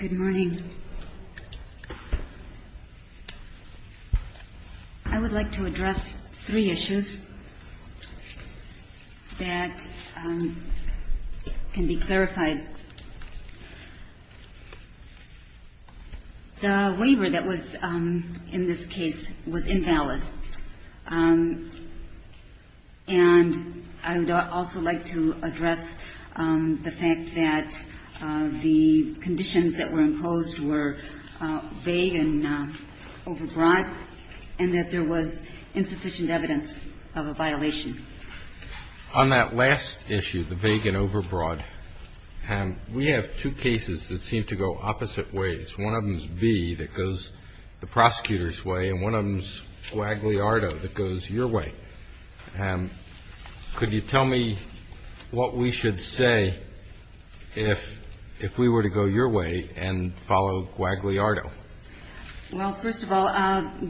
Good morning. I would like to address three issues that can be clarified. The waiver that was in this case was invalid. And I would also like to address the fact that the conditions that were imposed were vague and overbroad, and that there was insufficient evidence of a violation. On that last issue, the vague and overbroad, we have two cases that seem to go opposite ways. One of them is B that goes the prosecutor's way, and one of them is Guagliardo that goes your way. Could you tell me what we should say if we were to go your way and follow Guagliardo? Well, first of all,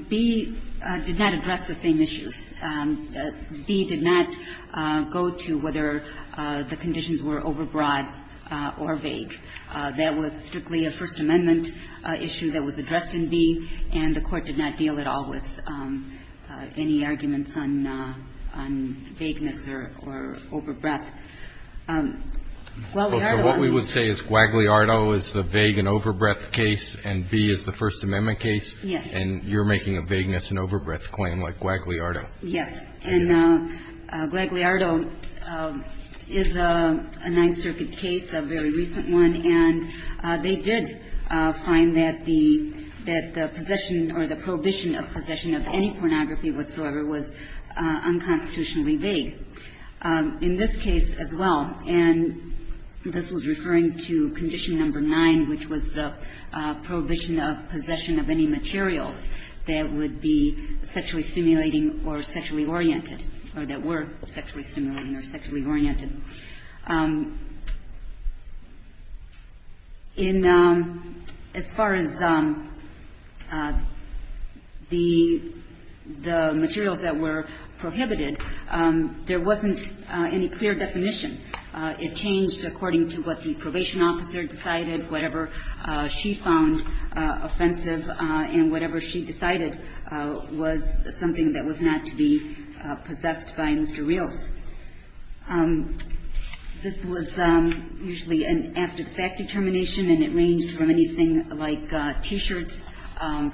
B did not address the same issues. B did not go to whether the conditions were overbroad or vague. That was strictly a First Amendment issue that was addressed in B, and the Court did not deal at all with any arguments on vagueness or overbreadth. Guagliardo on the other hand. So what we would say is Guagliardo is the vague and overbreadth case, and B is the First Amendment case? Yes. And you're making a vagueness and overbreadth claim like Guagliardo. Yes. And Guagliardo is a Ninth Circuit case, a very recent one, and they did find that the possession or the prohibition of possession of any pornography whatsoever was unconstitutionally vague. In this case as well, and this was referring to Condition No. 9, which was the prohibition of possession of any materials that would be sexually stimulating or sexually oriented, or that were sexually stimulating or sexually oriented. In as far as the materials that were prohibited, there wasn't any clear definition. It changed according to what the probation officer decided, whatever she found offensive, and whatever she decided was something that was not to be possessed by Mr. Rios. This was usually after the fact determination, and it ranged from anything like T-shirts,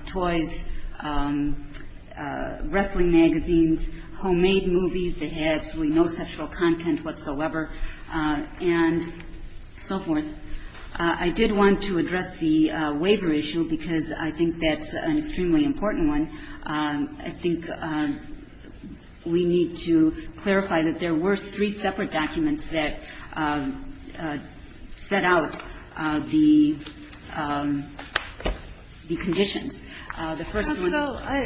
toys, wrestling magazines, homemade movies that had absolutely no sexual content whatsoever, and so forth. I did want to address the waiver issue, because I think that's an extremely important one. I think we need to clarify that there were three separate documents that set out the conditions. The first one is the waiver. I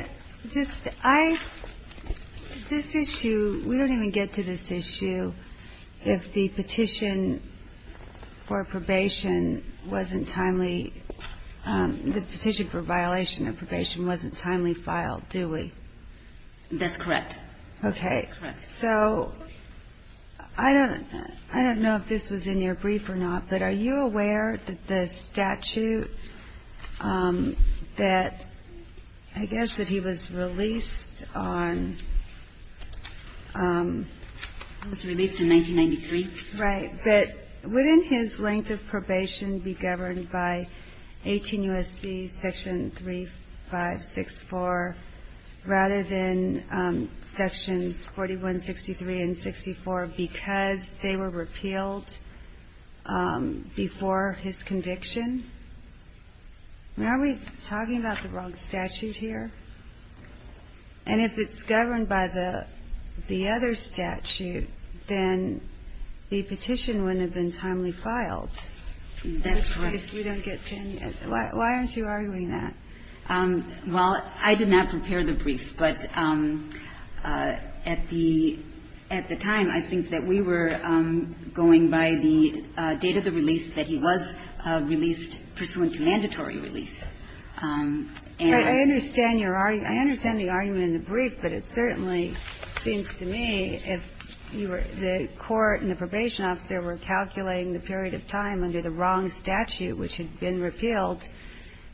don't know if this was in your brief or not, but are you aware that the statute that, I guess, that he was released on 1993? Right, but wouldn't his length of probation be governed by 18 U.S.C. section 3564, rather than sections 4163 and 64, because they were repealed before his conviction? Are we talking about the wrong statute here? And if it's governed by the other statute, then the petition wouldn't have been timely filed. That's correct. Because we don't get tenure. Why aren't you arguing that? Well, I did not prepare the brief, but at the time, I think that we were going by the date of the release that he was released pursuant to mandatory release. But I understand your argument. I understand the argument in the brief, but it certainly seems to me if the court and the probation officer were calculating the period of time under the wrong statute, which had been repealed,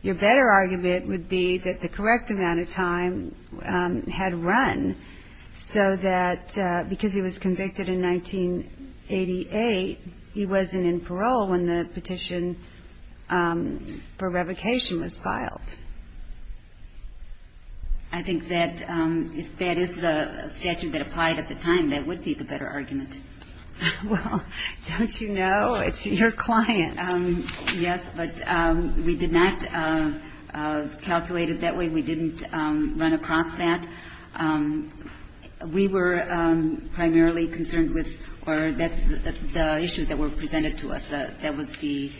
your better argument would be that the correct amount of time had run, so that because he was convicted in 1988, he wasn't in parole when the petition for revocation was filed. I think that if that is the statute that applied at the time, that would be the better argument. Well, don't you know? It's your client. Yes, but we did not calculate it that way. We didn't run across that. We were primarily concerned with the issues that were presented to us. That was the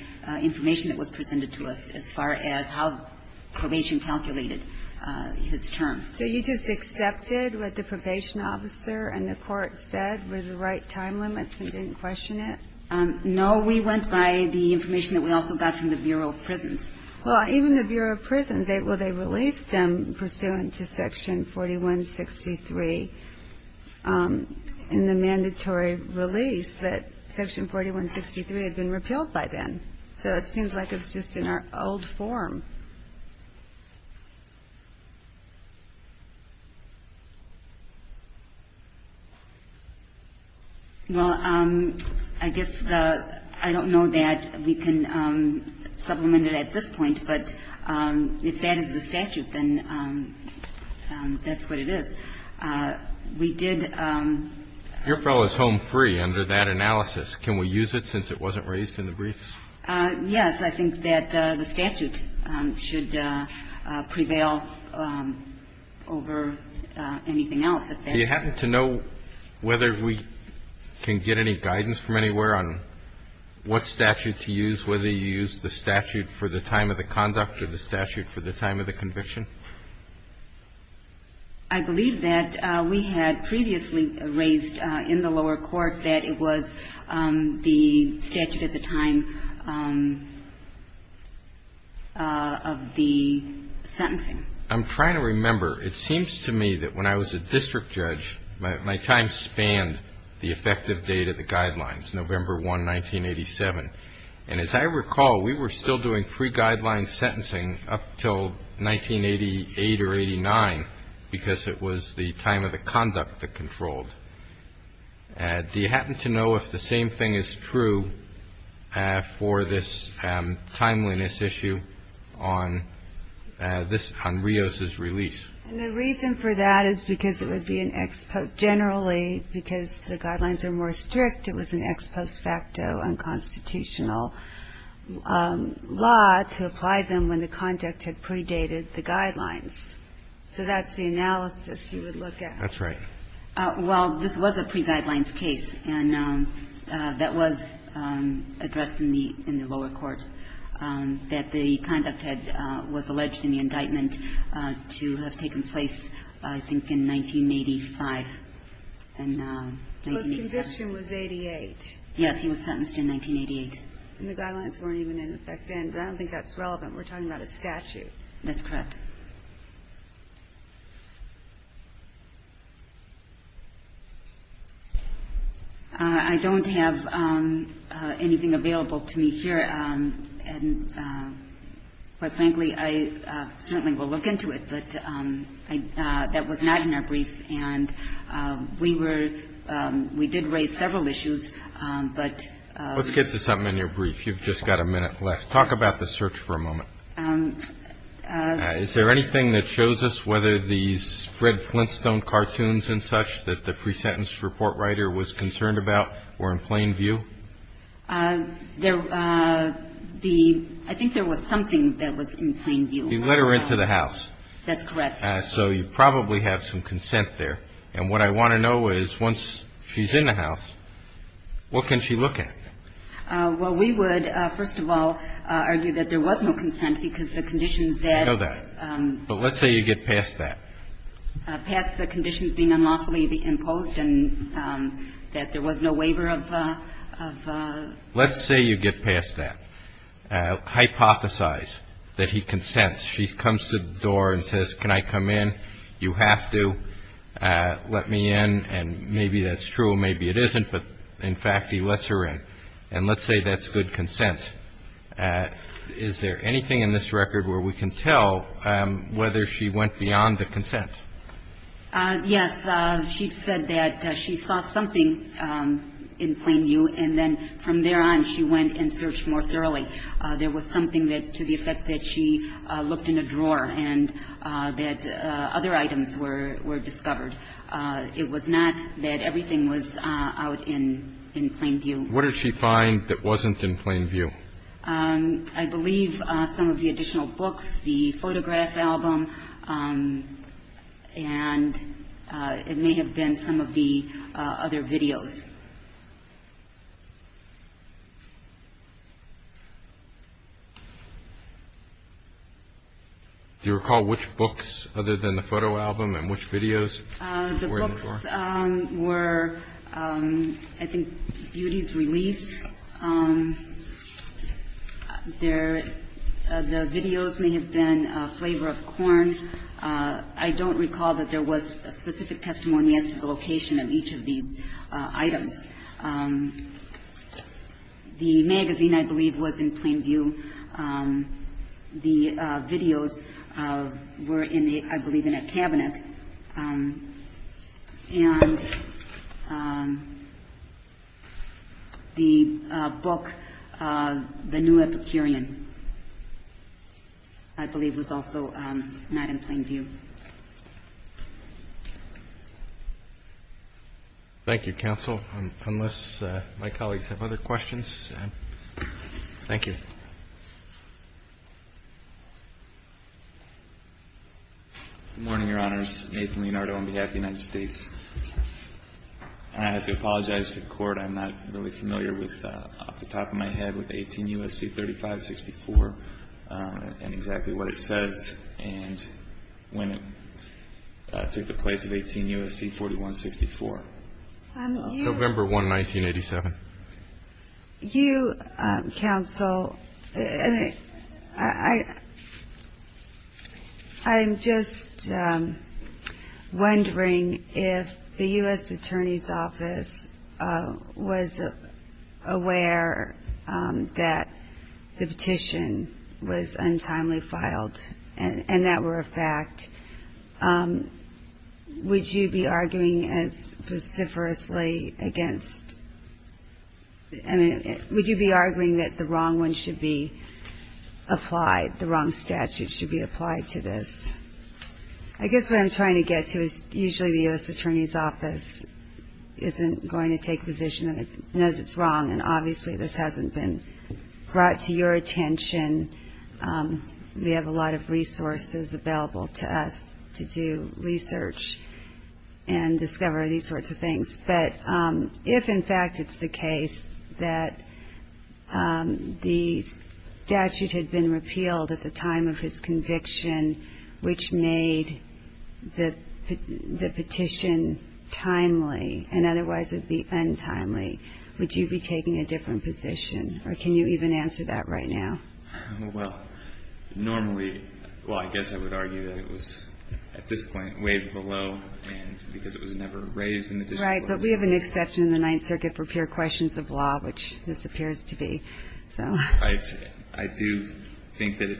information that was presented to us as far as how probation calculated his term. So you just accepted what the probation officer and the court said were the right time limits and didn't question it? No. We went by the information that we also got from the Bureau of Prisons. Well, even the Bureau of Prisons, they released him pursuant to Section 4163 in the mandatory release, but Section 4163 had been repealed by then, so it seems like it was just in our old form. Well, I guess I don't know that we can supplement it at this point, but if that is the statute, then that's what it is. We did — Your fellow is home free under that analysis. Can we use it since it wasn't raised in the briefs? I think that the statute would be helpful. I don't think that the statute should prevail over anything else at this point. Do you happen to know whether we can get any guidance from anywhere on what statute to use, whether you use the statute for the time of the conduct or the statute for the time of the conviction? I believe that we had previously raised in the lower court that it was the statute at the time of the sentencing. I'm trying to remember. It seems to me that when I was a district judge, my time spanned the effective date of the guidelines, November 1, 1987. And as I recall, we were still doing pre-guideline sentencing up until 1988 or 89 because it was the time of the conduct that controlled. Do you happen to know if the same thing is true for this timeliness issue on this — on Rios's release? And the reason for that is because it would be an ex — generally, because the guidelines are more strict, it was an ex post facto unconstitutional law to apply them when the conduct had predated the guidelines. So that's the analysis you would look at. That's right. Well, this was a pre-guidelines case, and that was addressed in the lower court, that the conduct had — was alleged in the indictment to have taken place, I think, in 1985. And — Well, his conviction was 88. Yes. He was sentenced in 1988. And the guidelines weren't even in effect then, but I don't think that's relevant. We're talking about a statute. That's correct. I don't have anything available to me here. And, quite frankly, I certainly will look into it. But that was not in our briefs. And we were — we did raise several issues, but — Let's get to something in your brief. You've just got a minute left. Talk about the search for a moment. Is there anything that shows us whether these Fred Flintstone cartoons and such that the pre-sentence report writer was concerned about were in plain view? There — the — I think there was something that was in plain view. You let her into the house. That's correct. So you probably have some consent there. And what I want to know is, once she's in the house, what can she look at? Well, we would, first of all, argue that there was no consent because the conditions that — I know that. But let's say you get past that. Past the conditions being unlawfully imposed and that there was no waiver of — Let's say you get past that. Hypothesize that he consents. She comes to the door and says, can I come in? You have to let me in. And maybe that's true. Maybe it isn't. But in fact, he lets her in. And let's say that's good consent. Is there anything in this record where we can tell whether she went beyond the consent? Yes. She said that she saw something in plain view. And then from there on, she went and searched more thoroughly. There was something that, to the effect that she looked in a drawer and that other items were discovered. It was not that everything was out in plain view. What did she find that wasn't in plain view? I believe some of the additional books, the photograph album, and it may have been some of the other videos. Do you recall which books other than the photo album and which videos were in the drawer? The books were, I think, Beauty's Release. The videos may have been Flavor of Corn. I don't recall that there was a specific testimony as to the location of each of these items. The magazine, I believe, was in plain view. The videos were, I believe, in a cabinet. And the book, The New Epicurean, I believe, was also not in plain view. Thank you, Counsel. Unless my colleagues have other questions. Thank you. Good morning, Your Honors. Nathan Leonardo on behalf of the United States. I have to apologize to the Court. I'm not really familiar with, off the top of my head, with 18 U.S.C. 3564 and exactly what it says. And when it took the place of 18 U.S.C. 4164. November 1, 1987. You, Counsel, I'm just wondering if the U.S. Attorney's Office was aware that the petition was untimely filed and that were a fact. Would you be arguing as vociferously against, I mean, would you be arguing that the wrong one should be applied, the wrong statute should be applied to this? I guess what I'm trying to get to is usually the U.S. Attorney's Office isn't going to take position and knows it's wrong. And obviously this hasn't been brought to your attention. We have a lot of resources available to us to do research and discover these sorts of things. But if, in fact, it's the case that the statute had been repealed at the time of his conviction, which made the petition timely and otherwise it would be untimely, would you be taking a different position? Or can you even answer that right now? Well, normally, well, I guess I would argue that it was at this point way below and because it was never raised in the discipline. Right. But we have an exception in the Ninth Circuit for pure questions of law, which this appears to be. So I do think that it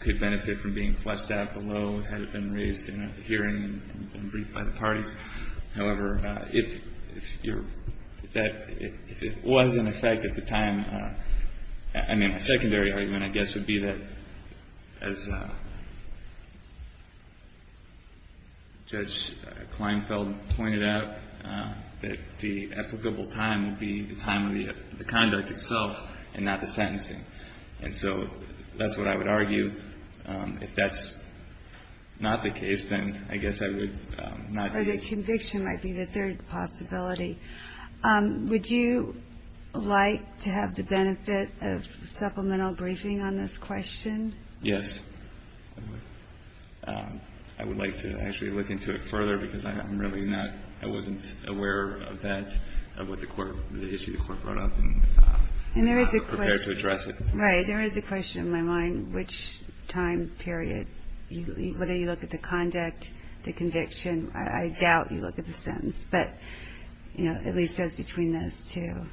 could benefit from being fleshed out below had it been raised in a hearing and briefed by the parties. However, if it was in effect at the time, I mean, a secondary argument, I guess, would be that as Judge Kleinfeld pointed out, that the applicable time would be the time of the conduct itself and not the sentencing. And so that's what I would argue. If that's not the case, then I guess I would not. Or the conviction might be the third possibility. Would you like to have the benefit of supplemental briefing on this question? Yes. I would like to actually look into it further because I'm really not, I wasn't aware of that, of what the court, the issue the court brought up. And there is a question. I'm not prepared to address it. Right. There is a question in my mind. I don't know which time period, whether you look at the conduct, the conviction. I doubt you look at the sentence. But, you know, at least as between those two.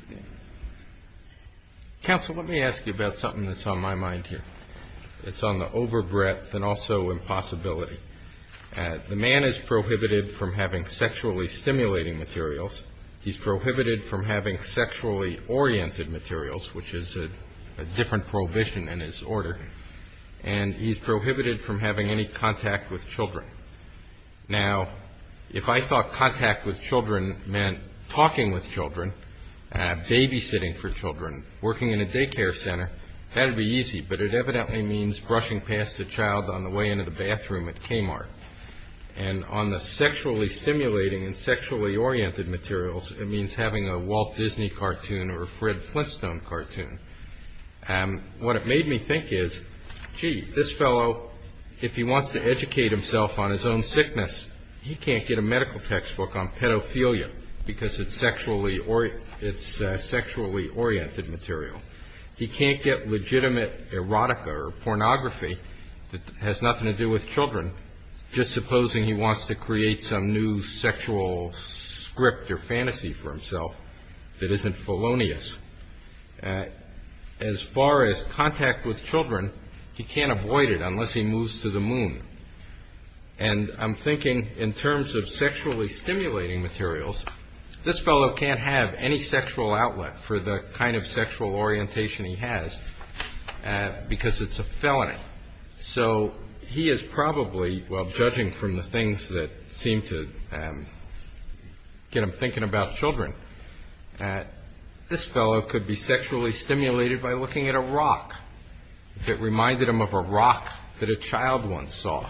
Counsel, let me ask you about something that's on my mind here. It's on the overbreadth and also impossibility. The man is prohibited from having sexually stimulating materials. He's prohibited from having sexually oriented materials, which is a different prohibition in his order. And he's prohibited from having any contact with children. Now, if I thought contact with children meant talking with children, babysitting for children, working in a daycare center, that would be easy. But it evidently means brushing past a child on the way into the bathroom at Kmart. And on the sexually stimulating and sexually oriented materials, it means having a Walt Disney cartoon or Fred Flintstone cartoon. What it made me think is, gee, this fellow, if he wants to educate himself on his own sickness, he can't get a medical textbook on pedophilia because it's sexually oriented material. He can't get legitimate erotica or pornography that has nothing to do with children. Just supposing he wants to create some new sexual script or fantasy for himself that isn't felonious. As far as contact with children, he can't avoid it unless he moves to the moon. And I'm thinking in terms of sexually stimulating materials, this fellow can't have any sexual outlet for the kind of sexual orientation he has because it's a felony. So he is probably, well, judging from the things that seem to get him thinking about children, this fellow could be sexually stimulated by looking at a rock that reminded him of a rock that a child once saw.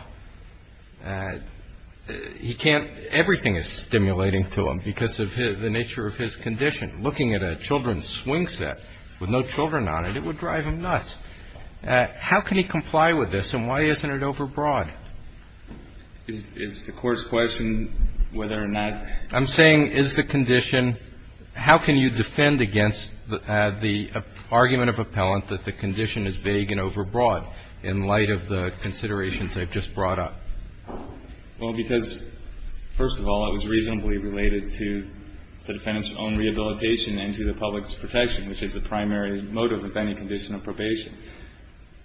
He can't. Everything is stimulating to him because of the nature of his condition. Looking at a children's swing set with no children on it, it would drive him nuts. How can he comply with this and why isn't it overbroad? It's the court's question whether or not. I'm saying is the condition, how can you defend against the argument of appellant that the condition is vague and overbroad in light of the considerations I've just brought up? Well, because, first of all, it was reasonably related to the defendant's own rehabilitation and to the public's protection, which is the primary motive of any condition of probation.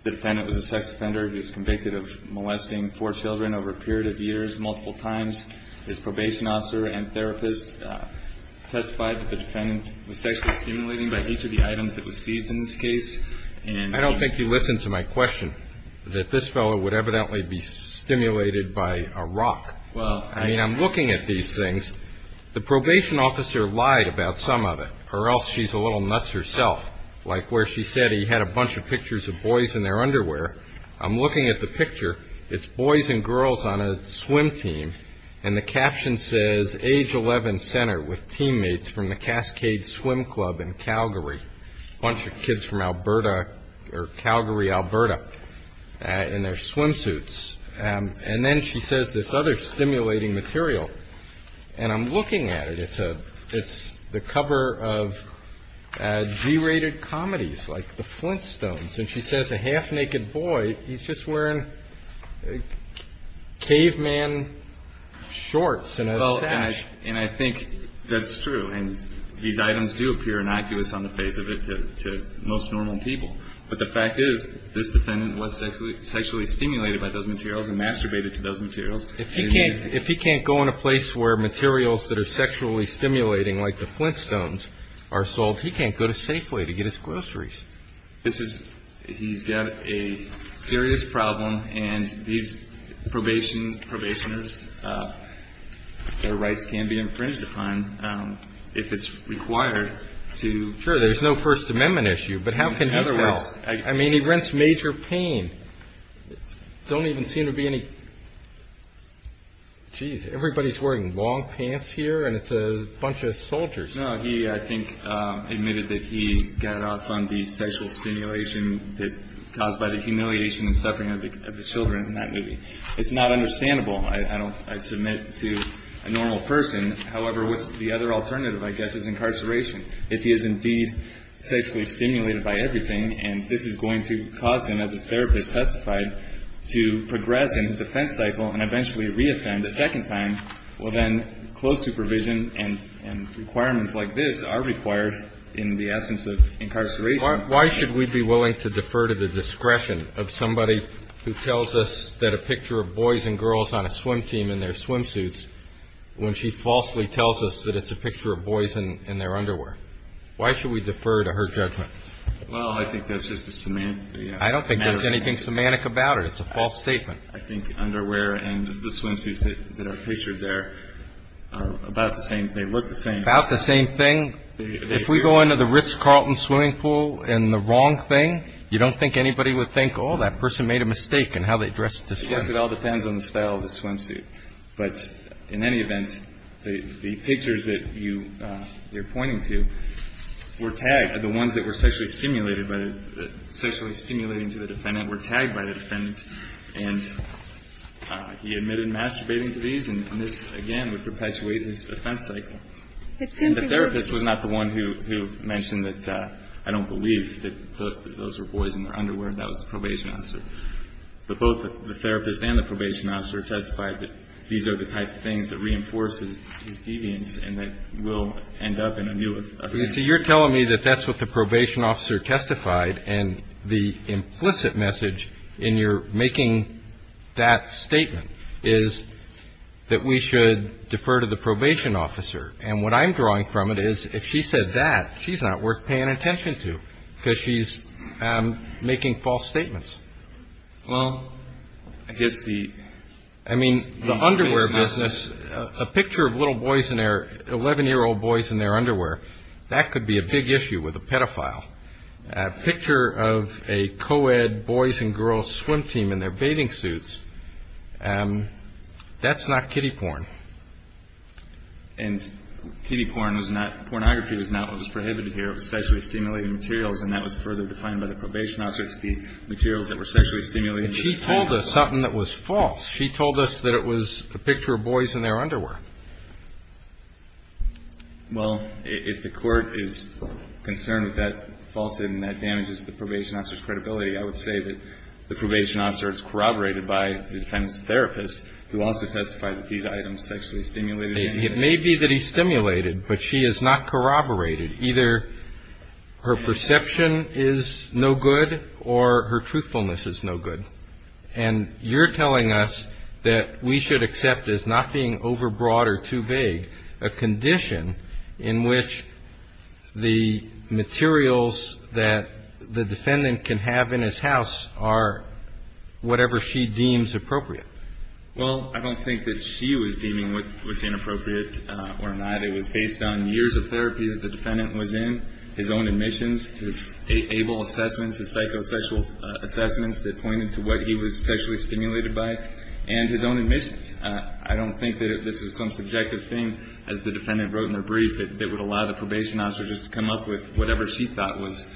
The defendant was a sex offender. He was convicted of molesting four children over a period of years, multiple times. His probation officer and therapist testified that the defendant was sexually stimulating by each of the items that was seized in this case. And I don't think you listened to my question, that this fellow would evidently be stimulated by a rock. Well, I mean, I'm looking at these things. The probation officer lied about some of it or else she's a little nuts herself, like where she said he had a bunch of pictures of boys in their underwear. I'm looking at the picture. It's boys and girls on a swim team. And the caption says, age 11, center, with teammates from the Cascade Swim Club in Calgary, a bunch of kids from Alberta or Calgary, Alberta, in their swimsuits. And then she says this other stimulating material. And I'm looking at it. It's the cover of G-rated comedies like The Flintstones. And she says a half-naked boy, he's just wearing caveman shorts and a sash. And I think that's true. And these items do appear innocuous on the face of it to most normal people. But the fact is, this defendant was sexually stimulated by those materials and masturbated to those materials. If he can't go in a place where materials that are sexually stimulating, like The Flintstones, are sold, he can't go to Safeway to get his groceries. He's got a serious problem. And these probationers, their rights can be infringed upon if it's required to. Sure. There's no First Amendment issue. But how can he help? I mean, he rents major pain. Don't even seem to be any geez. Everybody's wearing long pants here, and it's a bunch of soldiers. No. He, I think, admitted that he got off on the sexual stimulation caused by the humiliation and suffering of the children in that movie. It's not understandable. I submit to a normal person. However, the other alternative, I guess, is incarceration. If he is indeed sexually stimulated by everything, and this is going to cause him, as this therapist testified, to progress in his offense cycle and eventually reoffend a second time, well, then close supervision and requirements like this are required in the absence of incarceration. Why should we be willing to defer to the discretion of somebody who tells us that a picture of boys and girls on a swim team in their swimsuits when she falsely tells us that it's a picture of boys in their underwear? Why should we defer to her judgment? Well, I think that's just a semantic. I don't think there's anything semantic about it. It's a false statement. I think underwear and the swimsuits that are pictured there are about the same. They look the same. About the same thing. If we go into the Ritz-Carlton swimming pool in the wrong thing, you don't think anybody would think, oh, that person made a mistake in how they dressed. I guess it all depends on the style of the swimsuit. But in any event, the pictures that you're pointing to were tagged. The ones that were sexually stimulated by the – sexually stimulating to the defendant were tagged by the defendant. And he admitted masturbating to these, and this, again, would perpetuate his offense cycle. And the therapist was not the one who mentioned that I don't believe that those were boys in their underwear. That was the probation officer. But both the therapist and the probation officer testified that these are the type of things that reinforces his deviance and that we'll end up in a new offense cycle. So you're telling me that that's what the probation officer testified, and the implicit message in your making that statement is that we should defer to the probation officer. And what I'm drawing from it is if she said that, she's not worth paying attention to because she's making false statements. Well, I guess the – I mean, the underwear business, a picture of little boys in their – 11-year-old boys in their underwear, that could be a big issue with a pedophile. A picture of a co-ed boys and girls swim team in their bathing suits, that's not kiddie porn. And kiddie porn was not – pornography was not what was prohibited here. It was sexually stimulating materials, and that was further defined by the probation officer to be materials that were sexually stimulating. And she told us something that was false. She told us that it was a picture of boys in their underwear. Well, if the court is concerned with that falsehood and that damages the probation officer's credibility, I would say that the probation officer is corroborated by the defense therapist, who also testified that these items sexually stimulated him. It may be that he stimulated, but she is not corroborated. Either her perception is no good or her truthfulness is no good. And you're telling us that we should accept as not being overbroad or too vague a condition in which the materials that the defendant can have in his house are whatever she deems appropriate. Well, I don't think that she was deeming what was inappropriate or not. It was based on years of therapy that the defendant was in, his own admissions, his ABLE assessments, his psychosexual assessments that pointed to what he was sexually stimulated by, and his own admissions. I don't think that this was some subjective thing, as the defendant wrote in her brief, that would allow the probation officer just to come up with whatever she thought was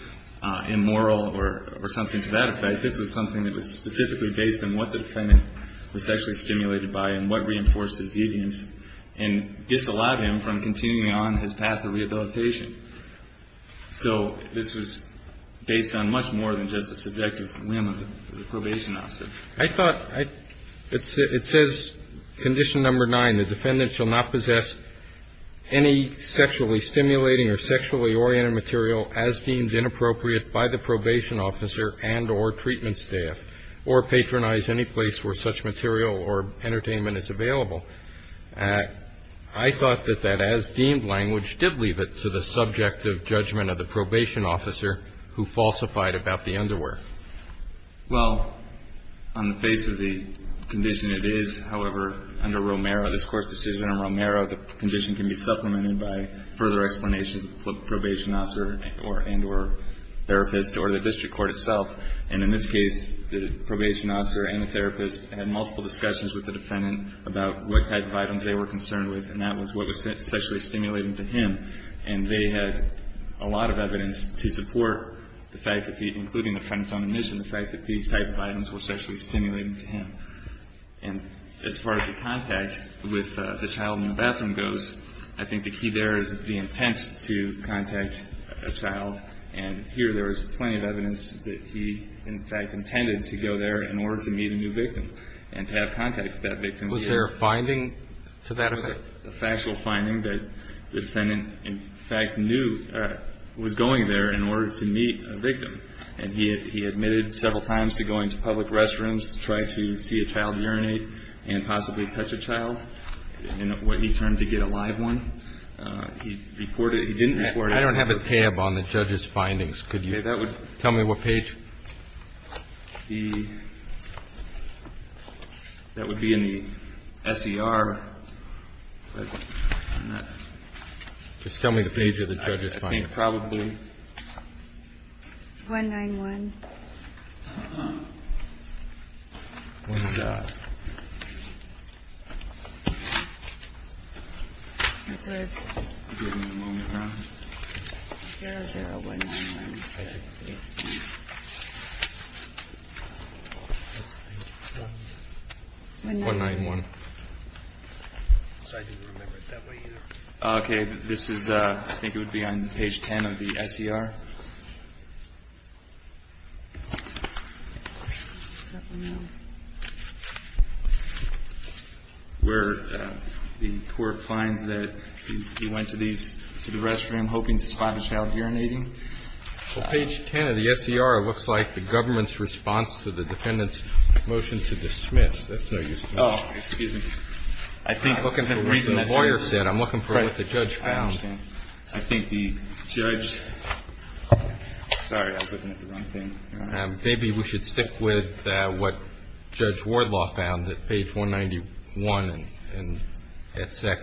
immoral or something to that effect. This was something that was specifically based on what the defendant was sexually stimulated by and what reinforced his deviance and disallowed him from continuing on his path of rehabilitation. So this was based on much more than just the subjective whim of the probation officer. I thought it says condition number nine, the defendant shall not possess any sexually stimulating or sexually oriented material as deemed inappropriate by the probation officer and or treatment staff or patronize any place where such material or entertainment is available. I thought that that as deemed language did leave it to the subjective judgment of the probation officer who falsified about the underwear. Well, on the face of the condition it is, however, under Romero, this Court's decision on Romero, the condition can be supplemented by further explanations of the probation officer and or therapist or the district court itself. And in this case, the probation officer and the therapist had multiple discussions with the defendant about what type of items they were concerned with, and that was what was sexually stimulating to him. And they had a lot of evidence to support the fact that the, including the defendant's own admission, the fact that these type of items were sexually stimulating to him. And as far as the contact with the child in the bathroom goes, I think the key there is the intent to contact a child. And here there is plenty of evidence that he, in fact, intended to go there in order to meet a new victim and to have contact with that victim. Was there a finding to that effect? A factual finding that the defendant, in fact, knew was going there in order to meet a victim. And he admitted several times to going to public restrooms to try to see a child urinate and possibly touch a child. And when he turned to get a live one, he didn't report it. I don't have a tab on the judge's findings. Could you tell me what page? That would be in the SER. Just tell me the page of the judge's findings. I think probably 191. 191. I didn't remember it that way either. Okay. This is, I think it would be on page 10 of the SER. Where the court finds that he went to these, to the restroom hoping to spot a child urinating. Page 10 of the SER looks like the government's response to the defendant's motion to dismiss. That's no use. Oh, excuse me. I'm looking for what the lawyer said. I'm looking for what the judge found. I understand. I think the judge. Sorry, I was looking at the wrong thing. Maybe we should stick with what Judge Wardlaw found at page 191 at SEC.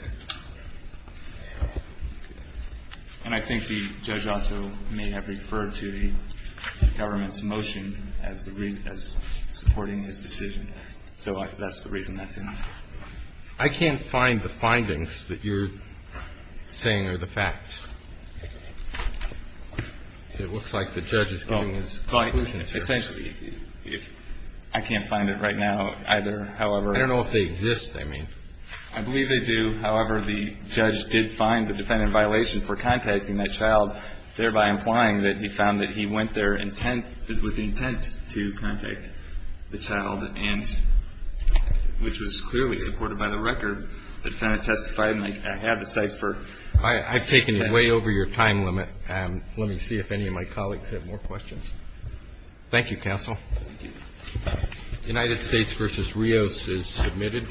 And I think the judge also may have referred to the government's motion as supporting his decision. So that's the reason that's in there. I can't find the findings that you're saying are the facts. It looks like the judge is giving his conclusion. Essentially. I can't find it right now either, however. I don't know if they exist, I mean. I believe they do. However, the judge did find the defendant in violation for contacting that child, thereby implying that he found that he went there with the intent to contact the child, which was clearly supported by the record. The defendant testified, and I have the sites for. I've taken you way over your time limit. Let me see if any of my colleagues have more questions. Thank you, Counsel. Thank you. United States v. Rios is submitted.